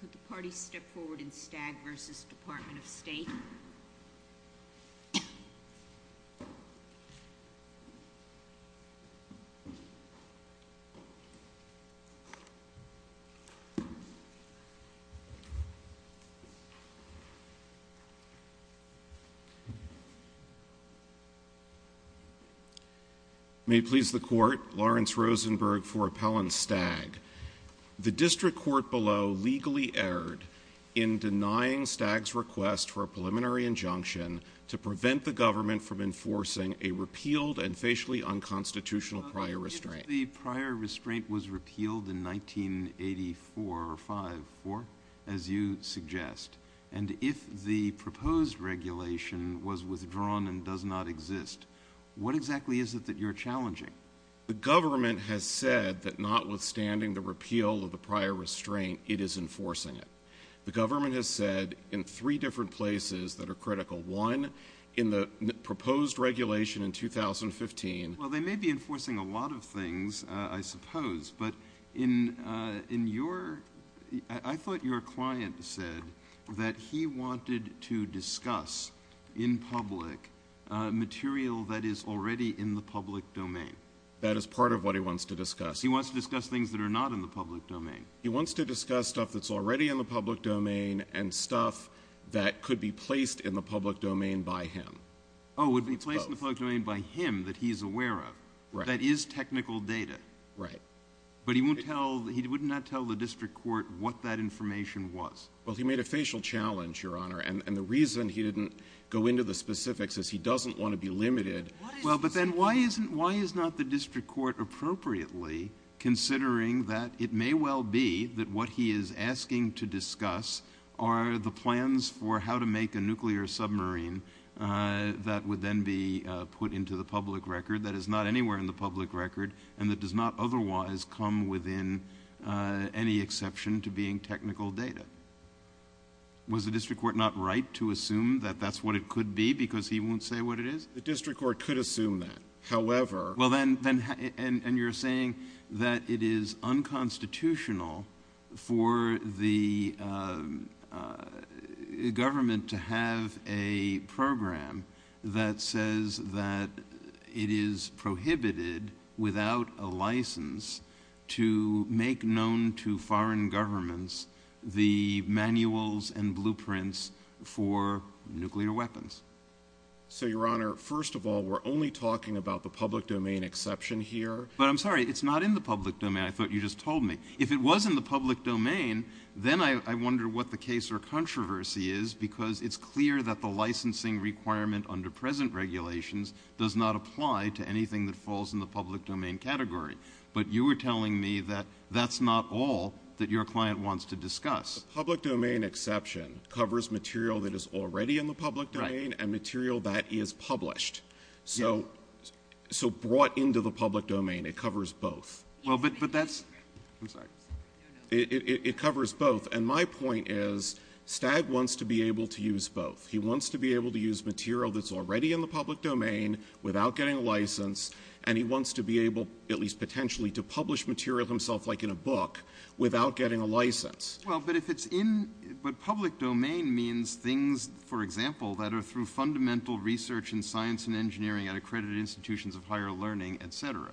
Could the party step forward in Stagg v. Department of State? May it please the Court, Lawrence Rosenberg for Appellant Stagg. The District Court below legally erred in denying Stagg's request for a preliminary injunction to prevent the government from enforcing a repealed and facially unconstitutional prior restraint. But if the prior restraint was repealed in 1984 or 5, 4, as you suggest, and if the proposed regulation was withdrawn and does not exist, what exactly is it that you're challenging? The government has said that notwithstanding the repeal of the prior restraint, it is enforcing it. The government has said in three different places that are critical. One, in the proposed regulation in 2015... Well, they may be enforcing a lot of things, I suppose, but in your... That is part of what he wants to discuss. He wants to discuss things that are not in the public domain. He wants to discuss stuff that's already in the public domain and stuff that could be placed in the public domain by him. Oh, would be placed in the public domain by him that he's aware of. Right. That is technical data. Right. But he wouldn't tell the District Court what that information was. Well, he made a facial challenge, Your Honor, and the reason he didn't go into the specifics is he doesn't want to be limited. Well, but then why is not the District Court appropriately considering that it may well be that what he is asking to discuss are the plans for how to make a nuclear submarine that would then be put into the public record that is not anywhere in the public record and that does not otherwise come within any exception to being technical data? Was the District Court not right to assume that that's what it could be because he won't say what it is? The District Court could assume that. However— Well, then—and you're saying that it is unconstitutional for the government to have a program that says that it is prohibited without a license to make known to foreign governments the manuals and blueprints for nuclear weapons. So, Your Honor, first of all, we're only talking about the public domain exception here. But I'm sorry. It's not in the public domain. I thought you just told me. If it was in the public domain, then I wonder what the case or controversy is because it's clear that the licensing requirement under present regulations does not apply to anything that falls in the public domain category. But you were telling me that that's not all that your client wants to discuss. The public domain exception covers material that is already in the public domain and material that is published. So brought into the public domain, it covers both. Well, but that's—I'm sorry. It covers both. And my point is Stagg wants to be able to use both. He wants to be able to use material that's already in the public domain without getting a license, and he wants to be able, at least potentially, to publish material himself, like in a book, without getting a license. Well, but if it's in—but public domain means things, for example, that are through fundamental research in science and engineering at accredited institutions of higher learning, et cetera.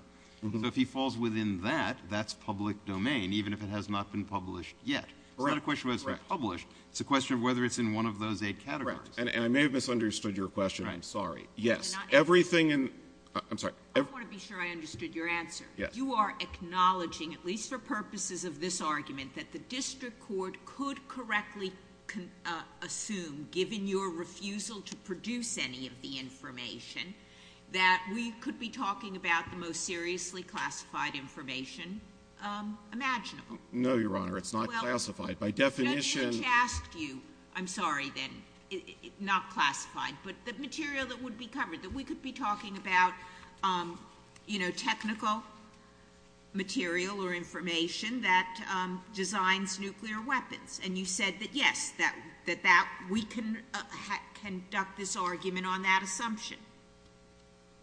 So if he falls within that, that's public domain, even if it has not been published yet. Correct. It's not a question of whether it's been published. It's a question of whether it's in one of those eight categories. Correct. And I may have misunderstood your question. I'm sorry. Yes. Everything in—I'm sorry. I want to be sure I understood your answer. Yes. Your Honor, you are acknowledging, at least for purposes of this argument, that the district court could correctly assume, given your refusal to produce any of the information, that we could be talking about the most seriously classified information imaginable. No, Your Honor. It's not classified. By definition— Judge Hitch asked you—I'm sorry, then, not classified, but the material that would be covered, that we could be talking about, you know, technical material or information that designs nuclear weapons. And you said that, yes, that we can conduct this argument on that assumption.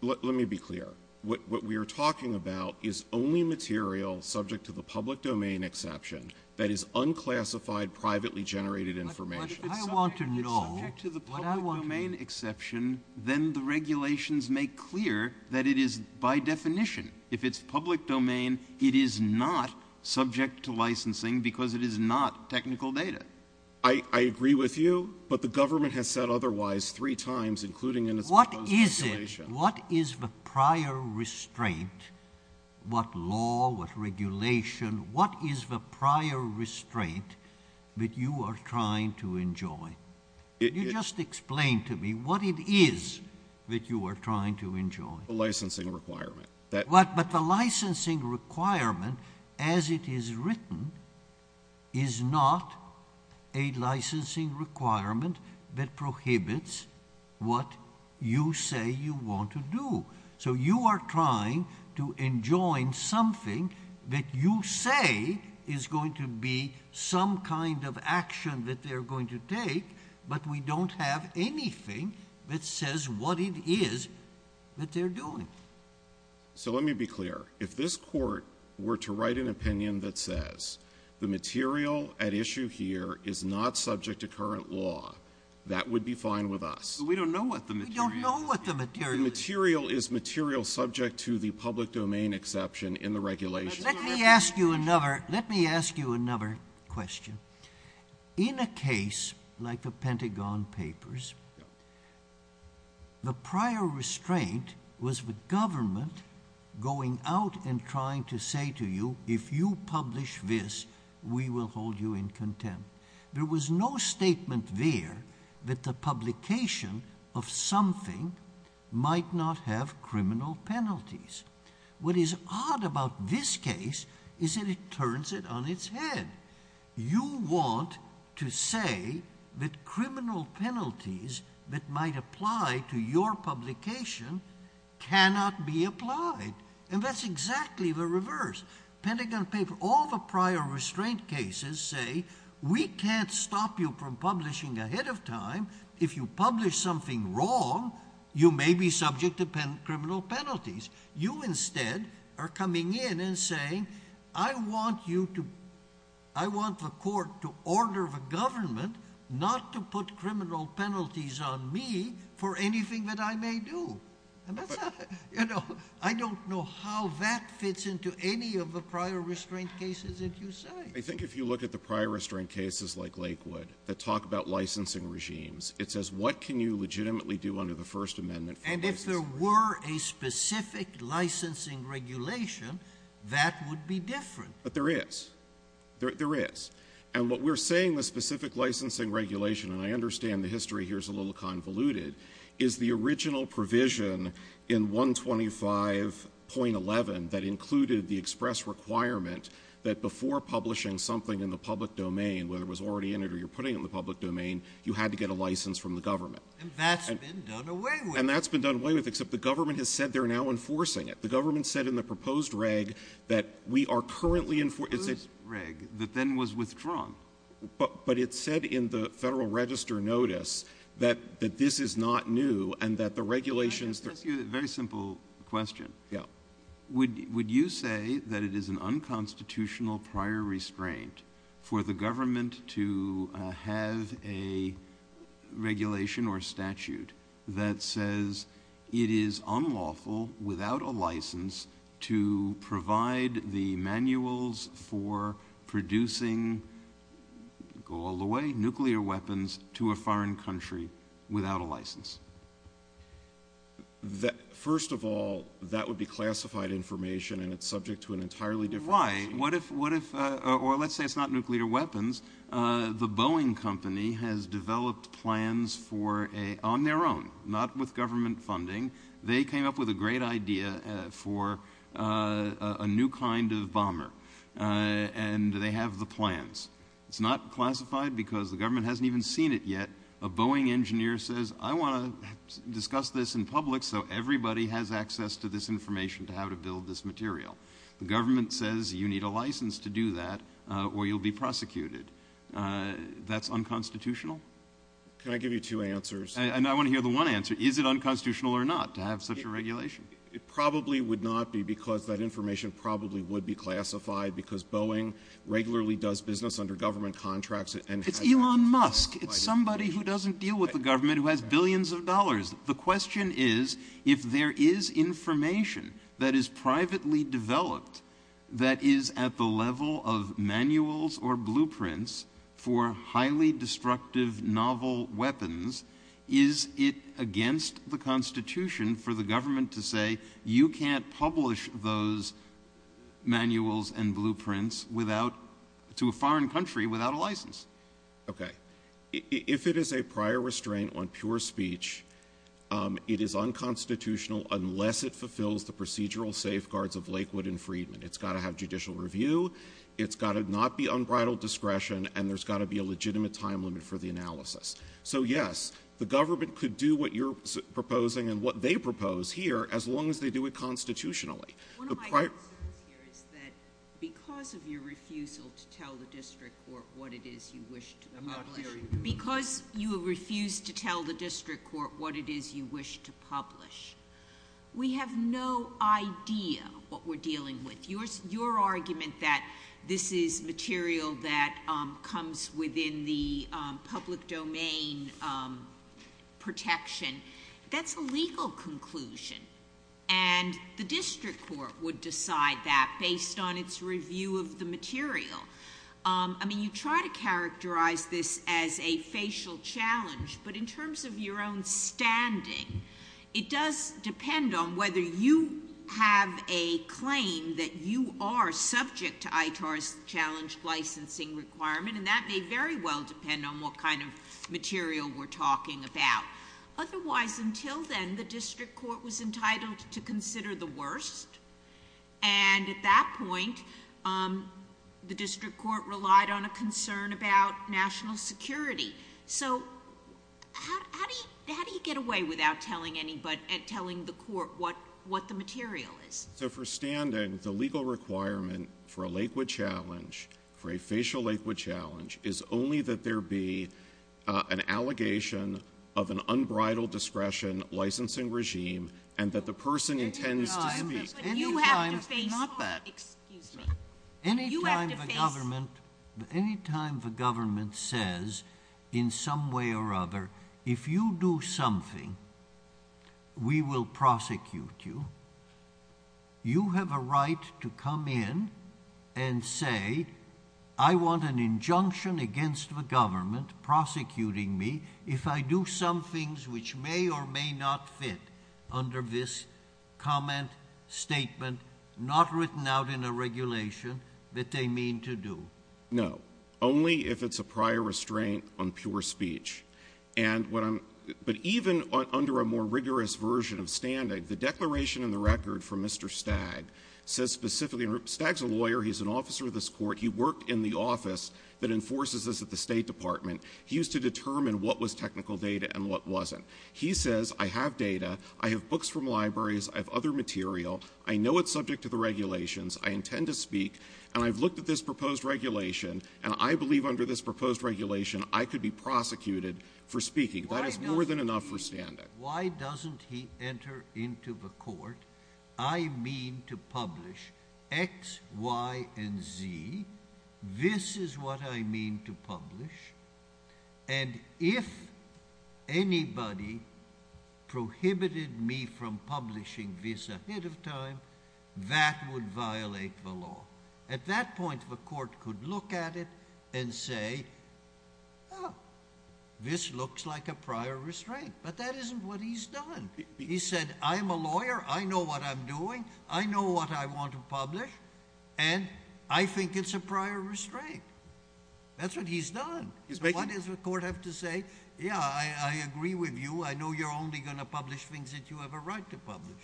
Let me be clear. What we are talking about is only material subject to the public domain exception that is unclassified, privately generated information. But I want to know— If it's subject to the public domain exception, then the regulations make clear that it is, by definition, if it's public domain, it is not subject to licensing because it is not technical data. I agree with you, but the government has said otherwise three times, including in its proposed regulation. What is it? What is the prior restraint? What law? What regulation? What is the prior restraint that you are trying to enjoy? Could you just explain to me what it is that you are trying to enjoy? The licensing requirement. But the licensing requirement, as it is written, is not a licensing requirement that prohibits what you say you want to do. So you are trying to enjoy something that you say is going to be some kind of action that they're going to take, but we don't have anything that says what it is that they're doing. So let me be clear. If this Court were to write an opinion that says the material at issue here is not subject to current law, that would be fine with us. But we don't know what the material is. We don't know what the material is. The material is material subject to the public domain exception in the regulation. Let me ask you another question. In a case like the Pentagon Papers, the prior restraint was the government going out and trying to say to you, if you publish this, we will hold you in contempt. There was no statement there that the publication of something might not have criminal penalties. What is odd about this case is that it turns it on its head. You want to say that criminal penalties that might apply to your publication cannot be applied. And that's exactly the reverse. All the prior restraint cases say, we can't stop you from publishing ahead of time. If you publish something wrong, you may be subject to criminal penalties. You instead are coming in and saying, I want the Court to order the government not to put criminal penalties on me for anything that I may do. I don't know how that fits into any of the prior restraint cases that you cite. I think if you look at the prior restraint cases like Lakewood that talk about licensing regimes, it says, what can you legitimately do under the First Amendment for licensing? And if there were a specific licensing regulation, that would be different. But there is. There is. And what we're saying, the specific licensing regulation, and I understand the history here is a little convoluted, is the original provision in 125.11 that included the express requirement that before publishing something in the public domain, whether it was already in it or you're putting it in the public domain, you had to get a license from the government. And that's been done away with. And that's been done away with, except the government has said they're now enforcing it. The government said in the proposed reg that we are currently enforcing it. The proposed reg that then was withdrawn. But it said in the Federal Register notice that this is not new and that the regulations. Let me ask you a very simple question. Yeah. Would you say that it is an unconstitutional prior restraint for the government to have a regulation or statute that says it is unlawful without a license to provide the manuals for producing, go all the way, nuclear weapons to a foreign country without a license? First of all, that would be classified information, and it's subject to an entirely different regime. Right. Or let's say it's not nuclear weapons. The Boeing Company has developed plans on their own, not with government funding. They came up with a great idea for a new kind of bomber, and they have the plans. It's not classified because the government hasn't even seen it yet. A Boeing engineer says, I want to discuss this in public so everybody has access to this information, to how to build this material. The government says you need a license to do that or you'll be prosecuted. That's unconstitutional? Can I give you two answers? I want to hear the one answer. Is it unconstitutional or not to have such a regulation? It probably would not be because that information probably would be classified because Boeing regularly does business under government contracts. It's Elon Musk. It's somebody who doesn't deal with the government who has billions of dollars. The question is if there is information that is privately developed that is at the level of manuals or blueprints for highly destructive novel weapons, is it against the Constitution for the government to say you can't publish those manuals and blueprints to a foreign country without a license? If it is a prior restraint on pure speech, it is unconstitutional unless it fulfills the procedural safeguards of Lakewood and Freedman. It's got to have judicial review. It's got to not be unbridled discretion, and there's got to be a legitimate time limit for the analysis. So yes, the government could do what you're proposing and what they propose here as long as they do it constitutionally. One of my concerns here is that because of your refusal to tell the district court what it is you wish to publish, because you have refused to tell the district court what it is you wish to publish, we have no idea what we're dealing with. Your argument that this is material that comes within the public domain protection, that's a legal conclusion. And the district court would decide that based on its review of the material. I mean, you try to characterize this as a facial challenge, but in terms of your own standing, it does depend on whether you have a claim that you are subject to ITAR's challenged licensing requirement, and that may very well depend on what kind of material we're talking about. Otherwise, until then, the district court was entitled to consider the worst, and at that point the district court relied on a concern about national security. So how do you get away without telling the court what the material is? So for standing, the legal requirement for a Lakewood challenge, for a facial Lakewood challenge, is only that there be an allegation of an unbridled discretion licensing regime, and that the person intends to speak. But you have to face court, excuse me. Any time the government says in some way or other, if you do something, we will prosecute you, you have a right to come in and say, I want an injunction against the government prosecuting me if I do some things which may or may not fit under this comment, statement, not written out in a regulation, that they mean to do. No. Only if it's a prior restraint on pure speech. But even under a more rigorous version of standing, the declaration in the record from Mr. Stagg says specifically, and Stagg's a lawyer, he's an officer of this court, he worked in the office that enforces this at the State Department, he used to determine what was technical data and what wasn't. He says, I have data, I have books from libraries, I have other material, I know it's subject to the regulations, I intend to speak, and I've looked at this proposed regulation, and I believe under this proposed regulation I could be prosecuted for speaking. That is more than enough for standing. Why doesn't he enter into the court? I mean to publish X, Y, and Z. This is what I mean to publish. And if anybody prohibited me from publishing this ahead of time, that would violate the law. At that point the court could look at it and say, oh, this looks like a prior restraint. But that isn't what he's done. He said, I'm a lawyer, I know what I'm doing, I know what I want to publish, and I think it's a prior restraint. That's what he's done. Why does the court have to say, yeah, I agree with you, I know you're only going to publish things that you have a right to publish.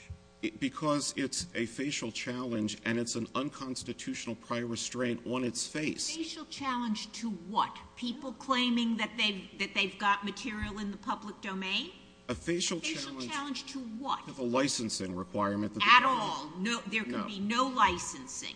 Because it's a facial challenge and it's an unconstitutional prior restraint on its face. A facial challenge to what? People claiming that they've got material in the public domain? A facial challenge to what? The licensing requirement. At all. There can be no licensing.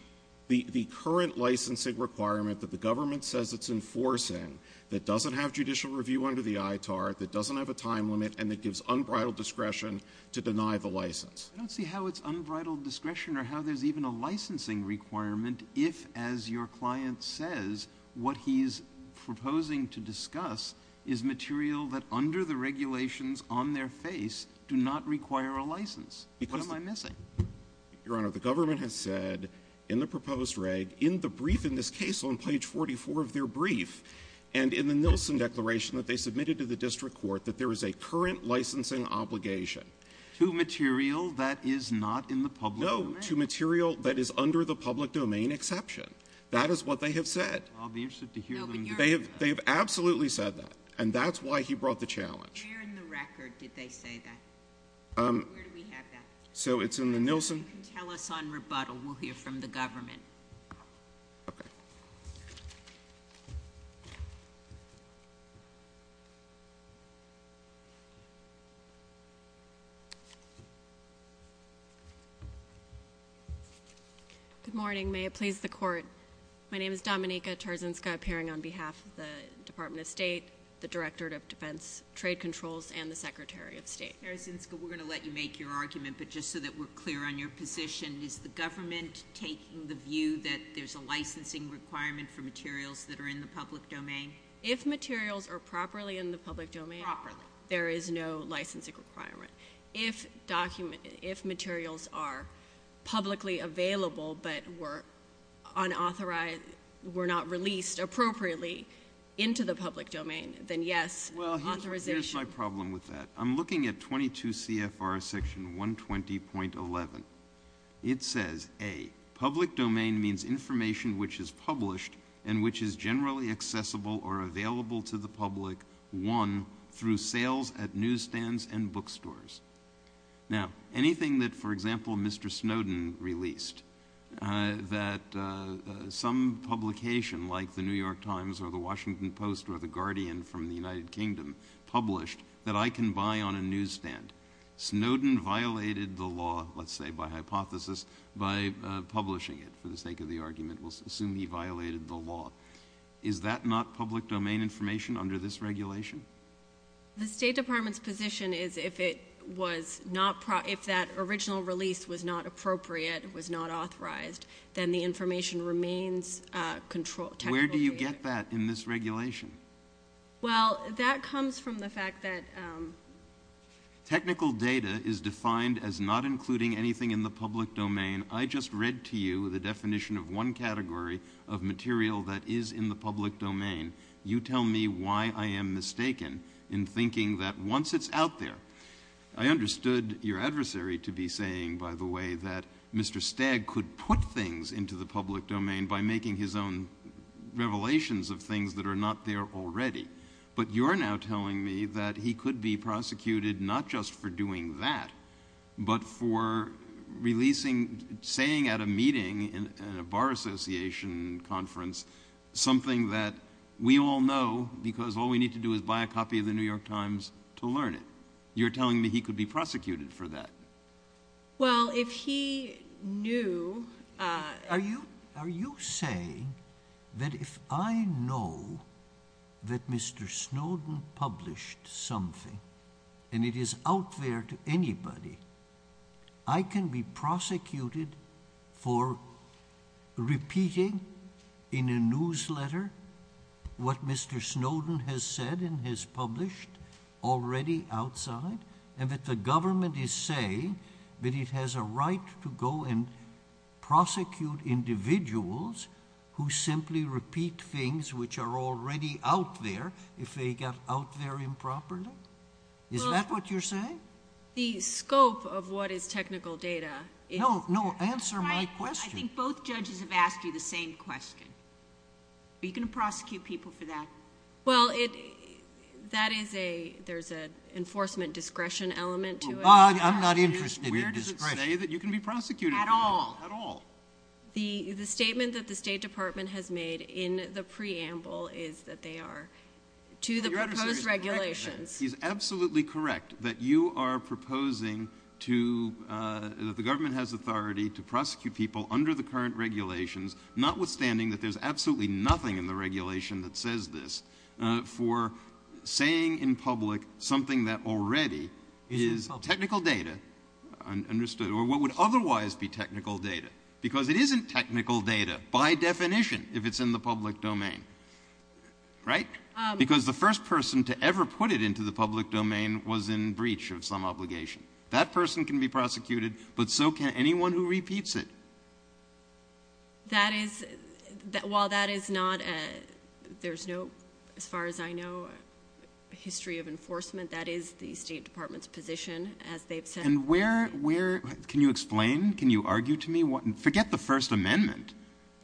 The current licensing requirement that the government says it's enforcing, that doesn't have judicial review under the ITAR, that doesn't have a time limit, and that gives unbridled discretion to deny the license. I don't see how it's unbridled discretion or how there's even a licensing requirement if, as your client says, what he's proposing to discuss is material that under the regulations on their face do not require a license. What am I missing? Your Honor, the government has said in the proposed reg, in the brief in this case on page 44 of their brief, and in the Nielsen declaration that they submitted to the district court, that there is a current licensing obligation. To material that is not in the public domain? No, to material that is under the public domain exception. That is what they have said. I'll be interested to hear them discuss that. They have absolutely said that, and that's why he brought the challenge. Where in the record did they say that? Where do we have that? It's in the Nielsen. If you can tell us on rebuttal, we'll hear from the government. Okay. Good morning. May it please the Court. My name is Dominica Tarzinska, appearing on behalf of the Department of State, the Director of Defense Trade Controls, and the Secretary of State. Ms. Tarzinska, we're going to let you make your argument, but just so that we're clear on your position, is the government taking the view that there's a licensing requirement for materials that are in the public domain? If materials are properly in the public domain, there is no licensing requirement. If materials are publicly available but were not released appropriately into the public domain, then yes, authorization. Here's my problem with that. I'm looking at 22 CFR section 120.11. It says, A, public domain means information which is published and which is generally accessible or available to the public, one, through sales at newsstands and bookstores. Now, anything that, for example, Mr. Snowden released, that some publication like The New York Times or The Washington Post or The Guardian from the United Kingdom published that I can buy on a newsstand. Snowden violated the law, let's say by hypothesis, by publishing it for the sake of the argument. We'll assume he violated the law. Is that not public domain information under this regulation? The State Department's position is if that original release was not appropriate, was not authorized, then the information remains technical data. Where do you get that in this regulation? Well, that comes from the fact that... Technical data is defined as not including anything in the public domain. I just read to you the definition of one category of material that is in the public domain. You tell me why I am mistaken in thinking that once it's out there. I understood your adversary to be saying, by the way, that Mr. Stagg could put things into the public domain by making his own revelations of things that are not there already. But you're now telling me that he could be prosecuted not just for doing that but for releasing, saying at a meeting, in a bar association conference, something that we all know because all we need to do is buy a copy of the New York Times to learn it. You're telling me he could be prosecuted for that. Well, if he knew... Are you saying that if I know that Mr. Snowden published something and it is out there to anybody, I can be prosecuted for repeating in a newsletter what Mr. Snowden has said and has published already outside and that the government is saying that it has a right to go and prosecute individuals who simply repeat things which are already out there if they got out there improperly? Is that what you're saying? The scope of what is technical data is... No, answer my question. I think both judges have asked you the same question. Are you going to prosecute people for that? Well, there's an enforcement discretion element to it. I'm not interested in discretion. Where does it say that you can be prosecuted? At all. At all. The statement that the State Department has made in the preamble is that they are to the proposed regulations. You're absolutely correct that you are proposing that the government has authority to prosecute people under the current regulations, notwithstanding that there's absolutely nothing in the regulation that says this, for saying in public something that already is technical data, understood, or what would otherwise be technical data. Because it isn't technical data by definition if it's in the public domain. Right? Because the first person to ever put it into the public domain was in breach of some obligation. That person can be prosecuted, but so can anyone who repeats it. That is... While that is not... There's no, as far as I know, history of enforcement. That is the State Department's position, as they've said. And where... Can you explain? Can you argue to me? Forget the First Amendment.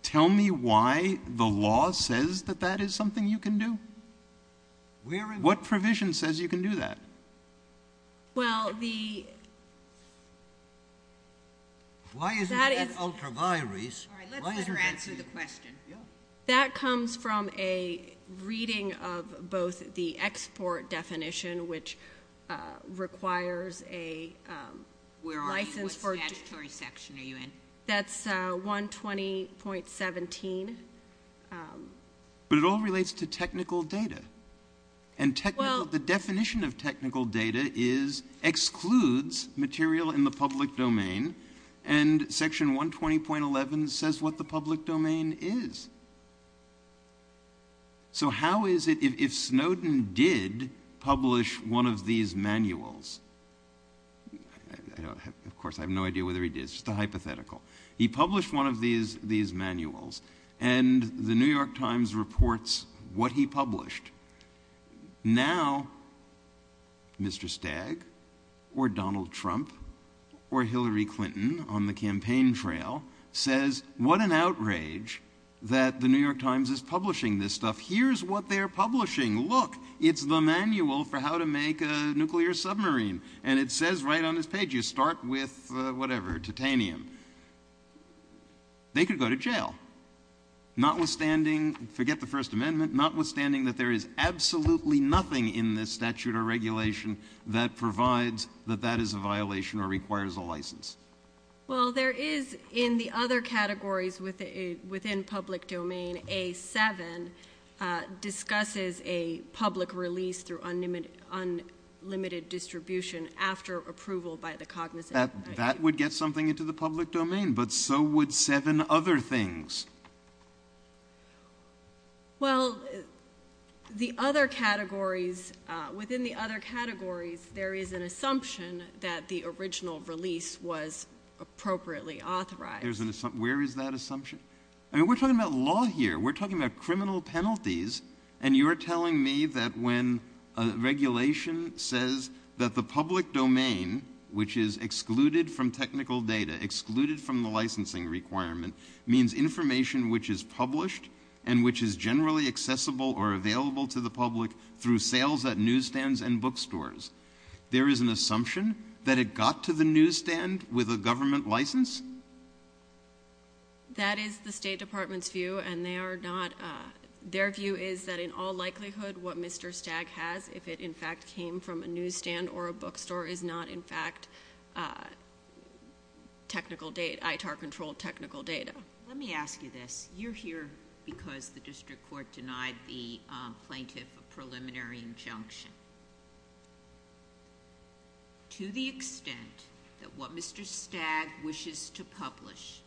Tell me why the law says that that is something you can do. What provision says you can do that? Well, the... Why isn't that an ultra virus? All right, let's let her answer the question. That comes from a reading of both the export definition, which requires a license for... Where are you? What statutory section are you in? That's 120.17. But it all relates to technical data. And technical... Well... The definition of technical data is excludes material in the public domain, and section 120.11 says what the public domain is. So how is it, if Snowden did publish one of these manuals... Of course, I have no idea whether he did. It's just a hypothetical. He published one of these manuals, and the New York Times reports what he published. Now, Mr. Stagg or Donald Trump or Hillary Clinton on the campaign trail says, what an outrage that the New York Times is publishing this stuff. Here's what they're publishing. Look, it's the manual for how to make a nuclear submarine. And it says right on this page, you start with whatever, titanium. They could go to jail. Notwithstanding, forget the First Amendment, notwithstanding that there is absolutely nothing in this statute or regulation that provides that that is a violation or requires a license. Well, there is in the other categories within public domain, A7 discusses a public release through unlimited distribution after approval by the cognizant. That would get something into the public domain, but so would seven other things. Well, the other categories, within the other categories, there is an assumption that the original release was appropriately authorized. Where is that assumption? I mean, we're talking about law here. We're talking about criminal penalties, and you're telling me that when regulation says that the public domain, which is excluded from technical data, excluded from the licensing requirement, means information which is published and which is generally accessible or available to the public through sales at newsstands and bookstores. There is an assumption that it got to the newsstand with a government license? That is the State Department's view, and they are not. Their view is that in all likelihood, what Mr. Stagg has, if it in fact came from a newsstand or a bookstore, is not in fact ITAR-controlled technical data. Let me ask you this. You're here because the district court denied the plaintiff a preliminary injunction. To the extent that what Mr. Stagg wishes to publish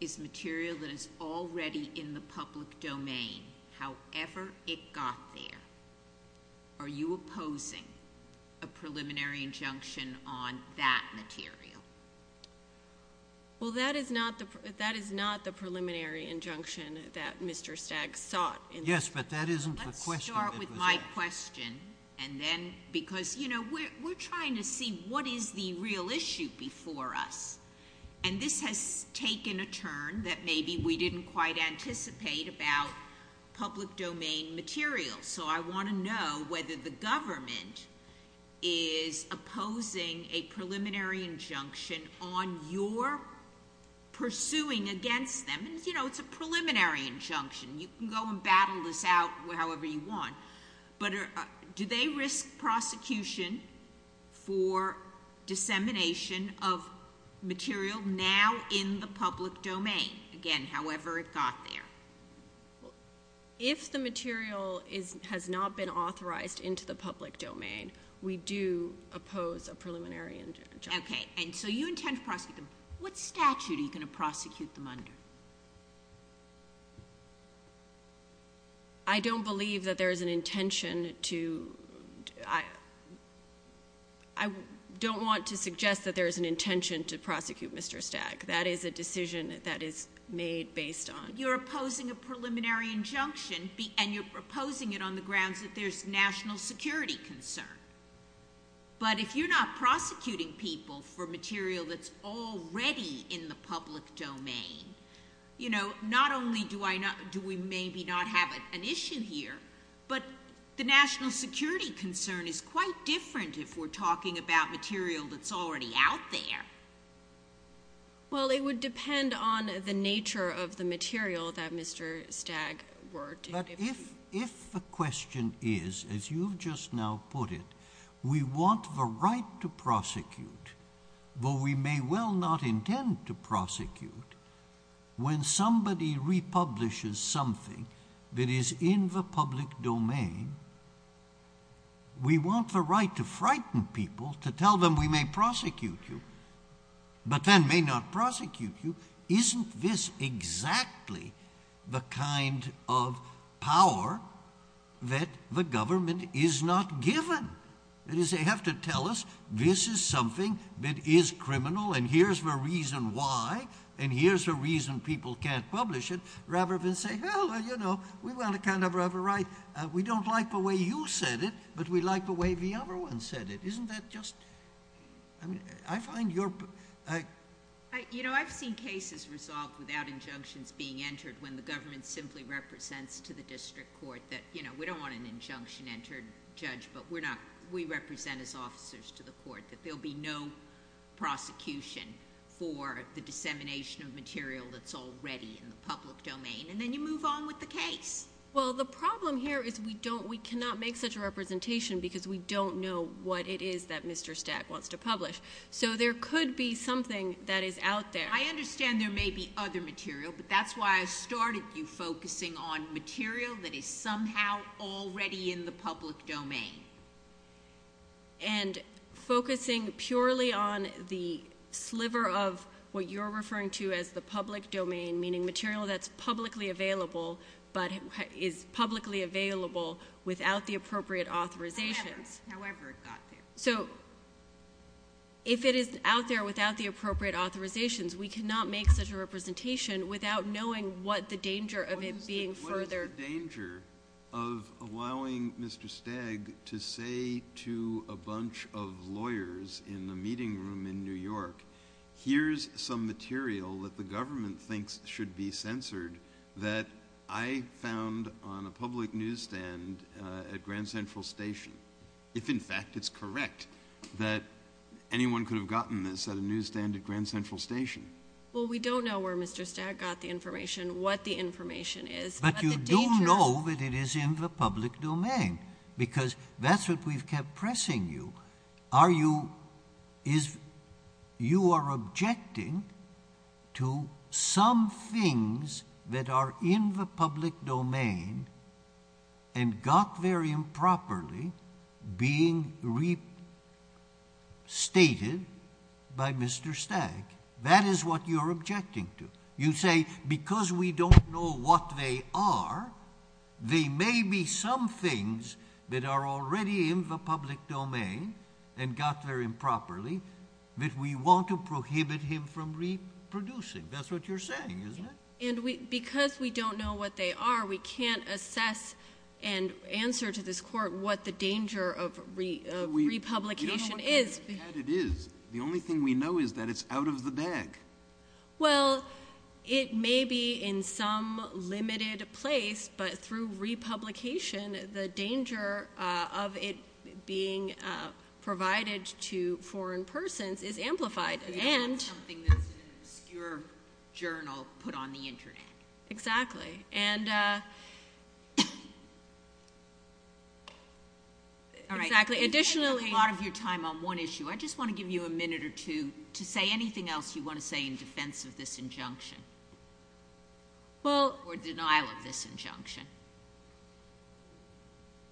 is material that is already in the public domain, however it got there, are you opposing a preliminary injunction on that material? Well, that is not the preliminary injunction that Mr. Stagg sought. Yes, but that isn't the question. Let's start with my question, and then because, you know, we're trying to see what is the real issue before us, and this has taken a turn that maybe we didn't quite anticipate about public domain material, so I want to know whether the government is opposing a preliminary injunction on your pursuing against them. You know, it's a preliminary injunction. You can go and battle this out however you want, but do they risk prosecution for dissemination of material now in the public domain, again, however it got there? If the material has not been authorized into the public domain, we do oppose a preliminary injunction. Okay. And so you intend to prosecute them. What statute are you going to prosecute them under? I don't believe that there is an intention to... Mr. Stagg, that is a decision that is made based on... You're opposing a preliminary injunction, and you're opposing it on the grounds that there's national security concern. But if you're not prosecuting people for material that's already in the public domain, you know, not only do we maybe not have an issue here, but the national security concern is quite different if we're talking about material that's already out there. Well, it would depend on the nature of the material that Mr. Stagg wrote. But if the question is, as you've just now put it, we want the right to prosecute, but we may well not intend to prosecute, when somebody republishes something that is in the public domain, we want the right to frighten people, to tell them we may prosecute you, but then may not prosecute you. Isn't this exactly the kind of power that the government is not given? That is, they have to tell us, this is something that is criminal, and here's the reason why, and here's the reason people can't publish it, rather than say, well, you know, we want to kind of have a right... We like the way you said it, but we like the way the other one said it. Isn't that just... I mean, I find your... You know, I've seen cases resolved without injunctions being entered when the government simply represents to the district court that, you know, we don't want an injunction-entered judge, but we represent as officers to the court that there'll be no prosecution for the dissemination of material that's already in the public domain, and then you move on with the case. Well, the problem here is we cannot make such a representation because we don't know what it is that Mr. Stack wants to publish. So there could be something that is out there. I understand there may be other material, but that's why I started you focusing on material that is somehow already in the public domain. And focusing purely on the sliver of what you're referring to as the public domain, meaning material that's publicly available, but is publicly available without the appropriate authorizations. However it got there. So if it is out there without the appropriate authorizations, we cannot make such a representation without knowing what the danger of it being further... What is the danger of allowing Mr. Stagg to say to a bunch of lawyers in the meeting room in New York, here's some material that the government thinks should be censored that I found on a public newsstand at Grand Central Station, if in fact it's correct that anyone could have gotten this at a newsstand at Grand Central Station. Well, we don't know where Mr. Stagg got the information, what the information is, but the danger... But you do know that it is in the public domain because that's what we've kept pressing you. Now, are you... is... you are objecting to some things that are in the public domain and got there improperly being restated by Mr. Stagg. That is what you're objecting to. You say because we don't know what they are, they may be some things that are already in the public domain and got there improperly that we want to prohibit him from reproducing. That's what you're saying, isn't it? And because we don't know what they are, we can't assess and answer to this court what the danger of republication is. We don't know what kind of cat it is. The only thing we know is that it's out of the bag. Well, it may be in some limited place, but through republication, the danger of it being provided to foreign persons is amplified and... Something that's in an obscure journal put on the Internet. Exactly. And... All right. Additionally... You've spent a lot of your time on one issue. I just want to give you a minute or two to say anything else you want to say in defense of this injunction... Well...... or denial of this injunction.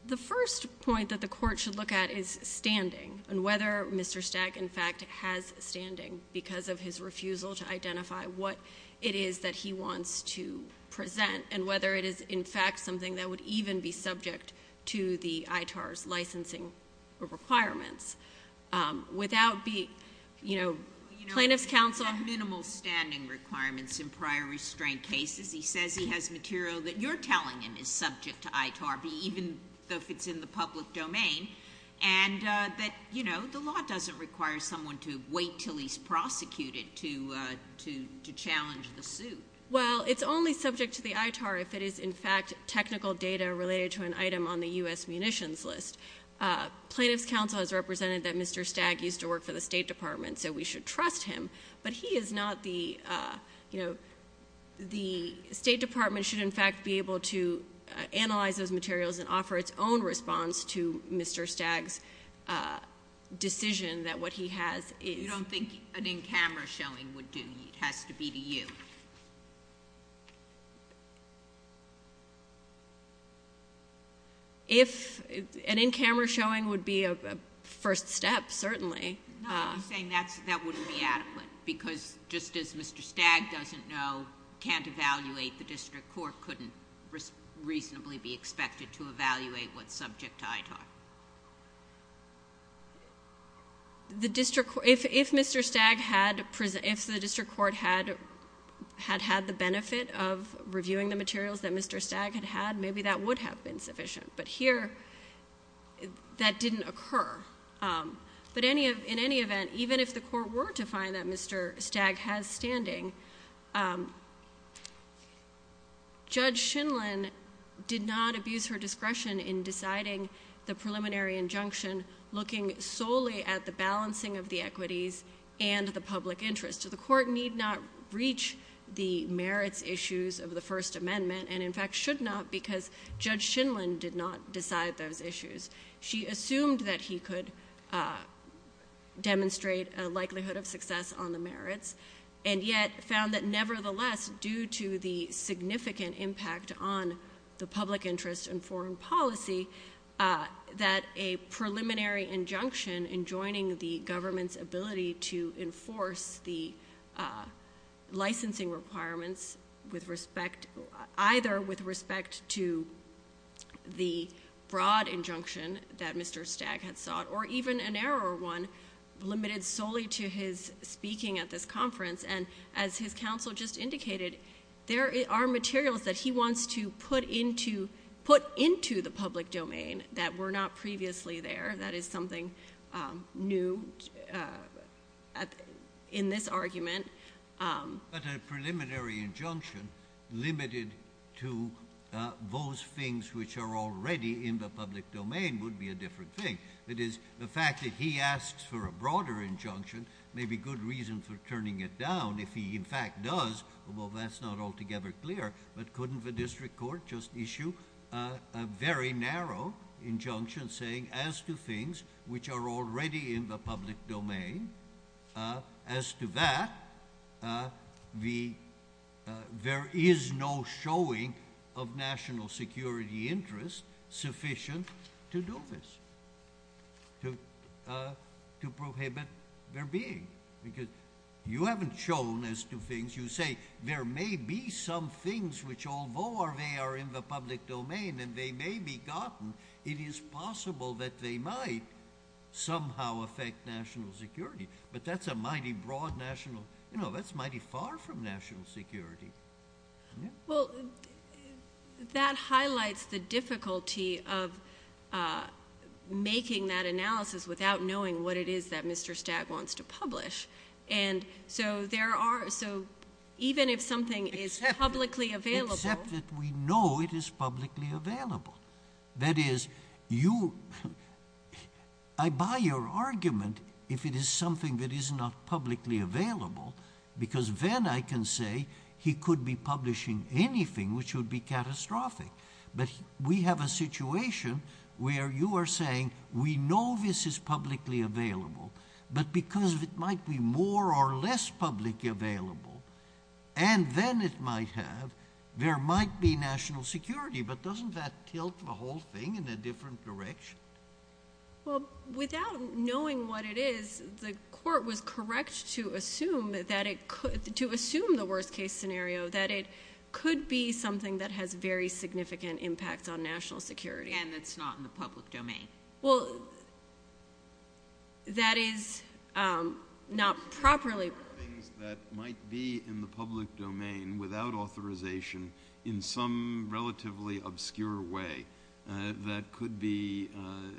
The first point that the court should look at is standing and whether Mr. Stagg, in fact, has standing because of his refusal to identify what it is that he wants to present and whether it is, in fact, something that would even be subject to the ITAR's licensing requirements. Without being, you know... Plaintiff's counsel... You know, he has minimal standing requirements in prior restraint cases. He says he has material that you're telling him is subject to ITAR, even if it's in the public domain, and that, you know, the law doesn't require someone to wait until he's prosecuted to challenge the suit. Well, it's only subject to the ITAR if it is, in fact, technical data related to an item on the U.S. munitions list. Plaintiff's counsel has represented that Mr. Stagg used to work for the State Department, so we should trust him, but he is not the, you know... The State Department should, in fact, be able to analyze those materials and offer its own response to Mr. Stagg's decision that what he has is... You don't think an in-camera showing would do? It has to be to you. If... An in-camera showing would be a first step, certainly. No, I'm saying that wouldn't be adequate, because just as Mr. Stagg doesn't know, can't evaluate, the district court couldn't reasonably be expected to evaluate what's subject to ITAR. If Mr. Stagg had... if the district court had had the benefit of reviewing the materials that Mr. Stagg had had, maybe that would have been sufficient, but here, that didn't occur. But in any event, even if the court were to find that Mr. Stagg has standing, Judge Shindlin did not abuse her discretion in deciding the preliminary injunction, looking solely at the balancing of the equities and the public interest. The court need not reach the merits issues of the First Amendment, and in fact should not, because Judge Shindlin did not decide those issues. She assumed that he could demonstrate a likelihood of success on the merits, and yet found that nevertheless, due to the significant impact on the public interest in foreign policy, that a preliminary injunction in joining the government's ability to enforce the licensing requirements with respect... either with respect to the broad injunction that Mr. Stagg had sought, or even a narrower one, limited solely to his speaking at this conference. And as his counsel just indicated, there are materials that he wants to put into the public domain that were not previously there. That is something new in this argument. But a preliminary injunction limited to those things which are already in the public domain would be a different thing. That is, the fact that he asks for a broader injunction may be good reason for turning it down. If he in fact does, although that's not altogether clear, but couldn't the district court just issue a very narrow injunction saying as to things which are already in the public domain, as to that, there is no showing of national security interest sufficient to do this, to prohibit their being. Because you haven't shown as to things. You say there may be some things which, although they are in the public domain and they may be gotten, it is possible that they might somehow affect national security. But that's a mighty broad national, you know, that's mighty far from national security. Well, that highlights the difficulty of making that analysis without knowing what it is that Mr. Stagg wants to publish. And so there are, so even if something is publicly available. Except that we know it is publicly available. That is, you, I buy your argument if it is something that is not publicly available, because then I can say he could be publishing anything which would be catastrophic. But we have a situation where you are saying we know this is publicly available, but because it might be more or less publicly available, and then it might have, there might be national security. But doesn't that tilt the whole thing in a different direction? Well, without knowing what it is, the court was correct to assume that it could, to assume the worst case scenario that it could be something that has very significant impact on national security. And it's not in the public domain. Well, that is not properly. Things that might be in the public domain without authorization in some relatively obscure way that could be,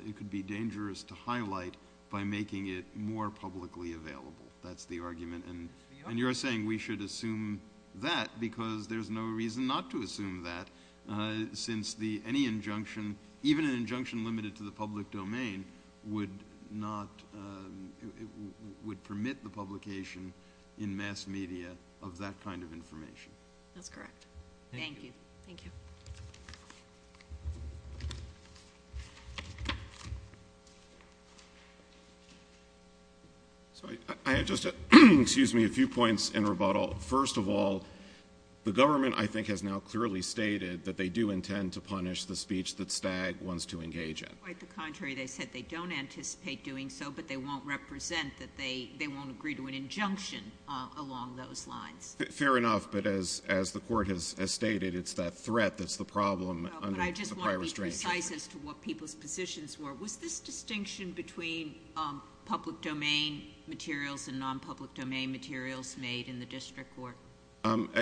it could be dangerous to highlight by making it more publicly available. That's the argument. And you're saying we should assume that because there's no reason not to assume that, since any injunction, even an injunction limited to the public domain, would not, would permit the publication in mass media of that kind of information. That's correct. Thank you. Thank you. I have just a few points in rebuttal. First of all, the government, I think, has now clearly stated that they do intend to punish the speech that Stagg wants to engage in. Quite the contrary. They said they don't anticipate doing so, but they won't represent that they won't agree to an injunction along those lines. Fair enough. But as the court has stated, it's that threat that's the problem under the prior restraining order. But I just want to be precise as to what people's positions were. Was this distinction between public domain materials and non-public domain materials made in the district court?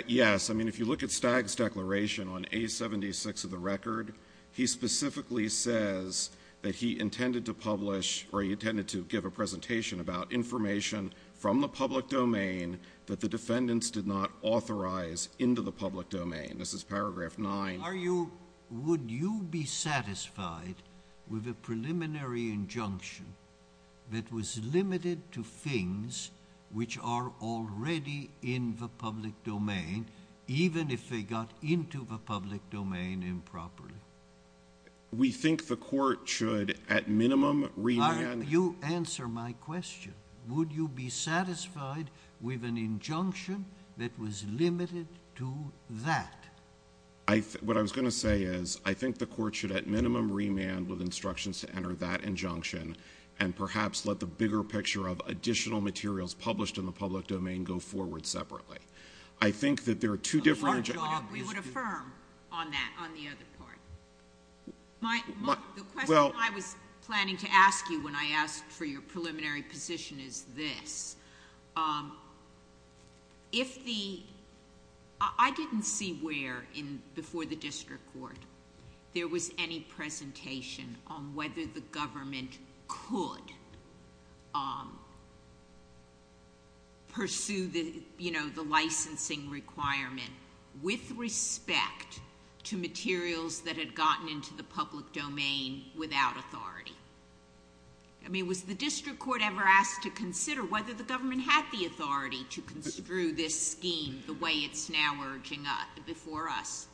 Yes. I mean, if you look at Stagg's declaration on A76 of the record, he specifically says that he intended to publish, or he intended to give a presentation about information from the public domain that the defendants did not authorize into the public domain. This is paragraph 9. Would you be satisfied with a preliminary injunction that was limited to things which are already in the public domain, even if they got into the public domain improperly? We think the court should, at minimum, remand— You answer my question. Would you be satisfied with an injunction that was limited to that? What I was going to say is I think the court should, at minimum, remand with instructions to enter that injunction and perhaps let the bigger picture of additional materials published in the public domain go forward separately. I think that there are two different— Our job is to— We would affirm on that, on the other part. The question I was planning to ask you when I asked for your preliminary position is this. If the—I didn't see where, before the district court, there was any presentation on whether the government could pursue the licensing requirement with respect to materials that had gotten into the public domain without authority. I mean, was the district court ever asked to consider whether the government had the authority to construe this scheme the way it's now urging before us?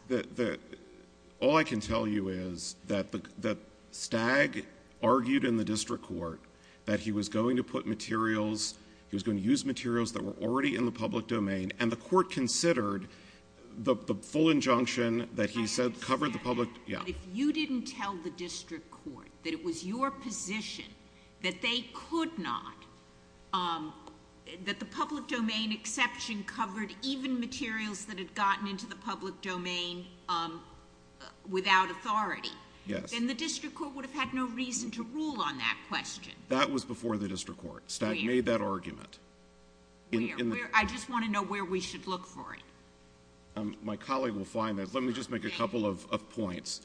All I can tell you is that Stagg argued in the district court that he was going to put materials, he was going to use materials that were already in the public domain, and the court considered the full injunction that he said covered the public— If you didn't tell the district court that it was your position that they could not, that the public domain exception covered even materials that had gotten into the public domain without authority, then the district court would have had no reason to rule on that question. That was before the district court. Stagg made that argument. I just want to know where we should look for it. My colleague will find it. Let me just make a couple of points.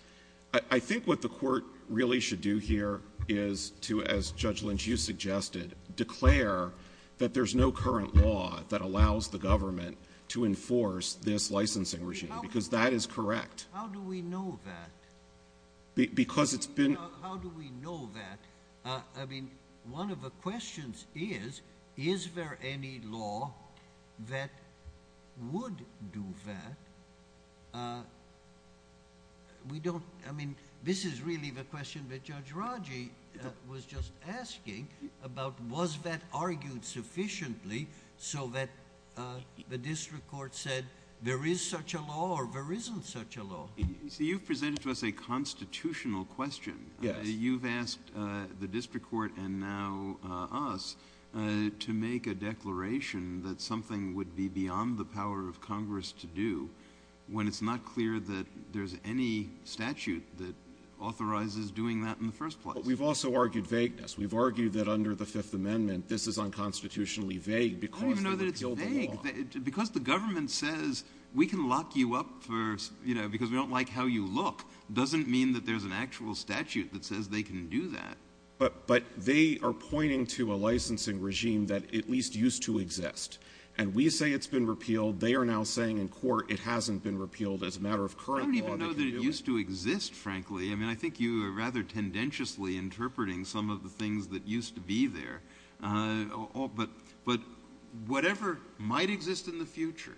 I think what the court really should do here is to, as Judge Lynch, you suggested, declare that there's no current law that allows the government to enforce this licensing regime, because that is correct. How do we know that? Because it's been— How do we know that? One of the questions is, is there any law that would do that? This is really the question that Judge Raji was just asking about, was that argued sufficiently so that the district court said there is such a law or there isn't such a law? You've presented to us a constitutional question. Yes. You've asked the district court and now us to make a declaration that something would be beyond the power of Congress to do when it's not clear that there's any statute that authorizes doing that in the first place. But we've also argued vagueness. We've argued that under the Fifth Amendment, this is unconstitutionally vague because they repealed the law. I don't even know that it's vague. Because the government says we can lock you up because we don't like how you look doesn't mean that there's an actual statute that says they can do that. But they are pointing to a licensing regime that at least used to exist. And we say it's been repealed. They are now saying in court it hasn't been repealed as a matter of current law. I don't even know that it used to exist, frankly. I mean, I think you are rather tendentiously interpreting some of the things that used to be there. But whatever might exist in the future,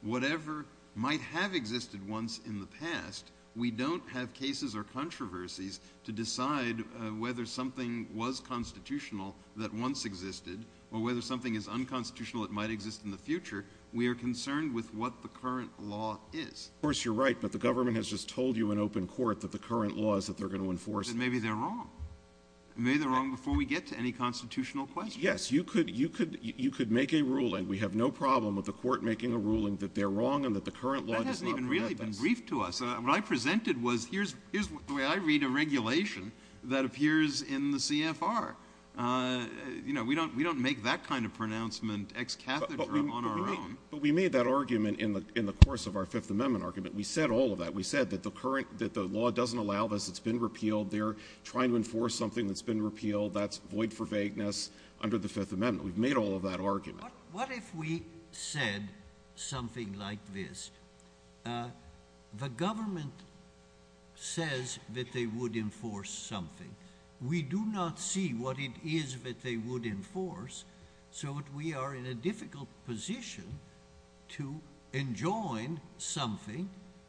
whatever might have existed once in the past, we don't have cases or controversies to decide whether something was constitutional that once existed or whether something is unconstitutional that might exist in the future. We are concerned with what the current law is. Of course, you're right. But the government has just told you in open court that the current law is that they're going to enforce. But maybe they're wrong. Maybe they're wrong before we get to any constitutional questions. Yes, you could make a ruling. We have no problem with the court making a ruling that they're wrong and that the current law does not permit this. That hasn't even really been briefed to us. What I presented was here's the way I read a regulation that appears in the CFR. You know, we don't make that kind of pronouncement ex cathedra on our own. But we made that argument in the course of our Fifth Amendment argument. We said all of that. We said that the law doesn't allow this. It's been repealed. They're trying to enforce something that's been repealed. That's void for vagueness under the Fifth Amendment. We've made all of that argument. What if we said something like this? The government says that they would enforce something. We do not see what it is that they would enforce. So, we are in a difficult position to enjoin something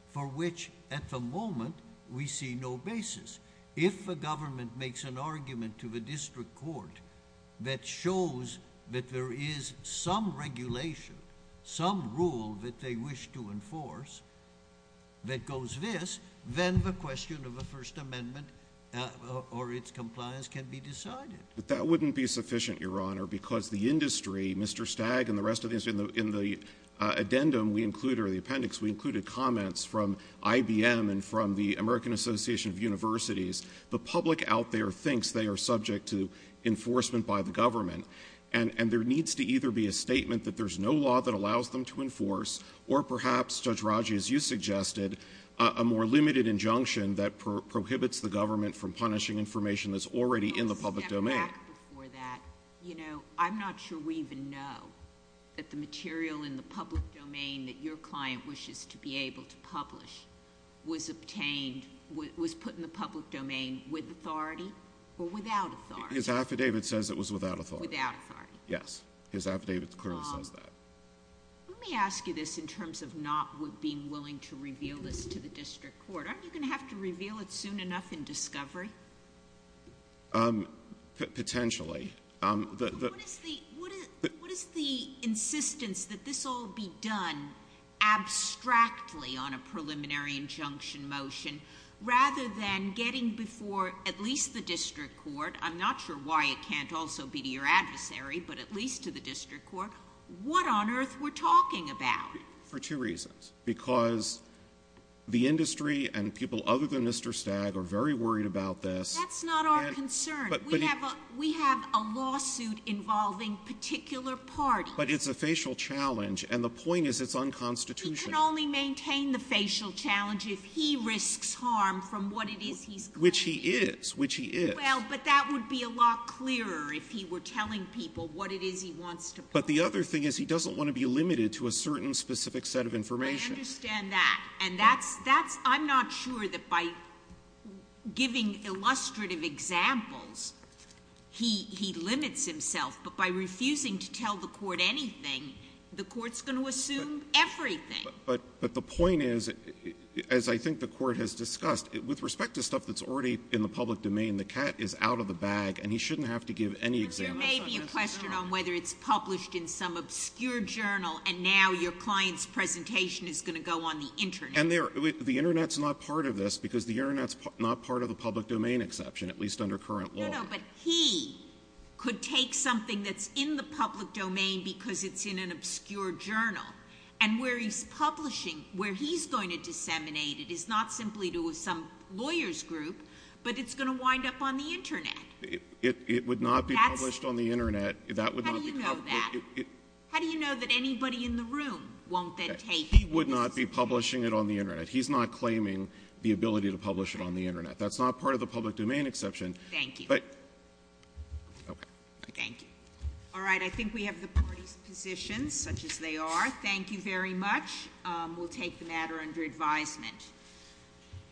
for which at the moment we see no basis. If the government makes an argument to the district court that shows that there is some regulation, some rule that they wish to enforce that goes this, then the question of the First Amendment or its compliance can be decided. But that wouldn't be sufficient, Your Honor, because the industry, Mr. Stagg and the rest of the industry, in the addendum we included, or the appendix, we included comments from IBM and from the American Association of Universities. The public out there thinks they are subject to enforcement by the government. And there needs to either be a statement that there's no law that allows them to enforce, or perhaps, Judge Raji, as you suggested, a more limited injunction that prohibits the government from punishing information that's already in the public domain. I'm not sure we even know that the material in the public domain that your client wishes to be able to publish was put in the public domain with authority or without authority. His affidavit says it was without authority. Without authority. Yes. His affidavit clearly says that. Let me ask you this in terms of not being willing to reveal this to the district court. Aren't you going to have to reveal it soon enough in discovery? Potentially. What is the insistence that this all be done abstractly on a preliminary injunction motion, rather than getting before at least the district court? I'm not sure why it can't also be to your adversary, but at least to the district court. What on earth we're talking about? For two reasons. Because the industry and people other than Mr. Stagg are very worried about this. That's not our concern. We have a lawsuit involving particular parties. But it's a facial challenge, and the point is it's unconstitutional. He can only maintain the facial challenge if he risks harm from what it is he's claiming. Which he is. Which he is. Well, but that would be a lot clearer if he were telling people what it is he wants to prove. But the other thing is he doesn't want to be limited to a certain specific set of information. I understand that. And that's — I'm not sure that by giving illustrative examples, he limits himself. But by refusing to tell the court anything, the court's going to assume everything. But the point is, as I think the Court has discussed, with respect to stuff that's already in the public domain, the cat is out of the bag, and he shouldn't have to give any examples. There may be a question on whether it's published in some obscure journal, and now your client's presentation is going to go on the Internet. And the Internet's not part of this, because the Internet's not part of the public domain exception, at least under current law. No, no. But he could take something that's in the public domain because it's in an obscure journal, and where he's publishing, where he's going to disseminate it is not simply to some lawyer's group, but it's going to wind up on the Internet. It would not be published on the Internet. That would not be public. How do you know that? How do you know that anybody in the room won't then take it? He would not be publishing it on the Internet. He's not claiming the ability to publish it on the Internet. That's not part of the public domain exception. Thank you. But — okay. Thank you. All right. I think we have the parties' positions, such as they are. Thank you very much. We'll take the matter under advisement.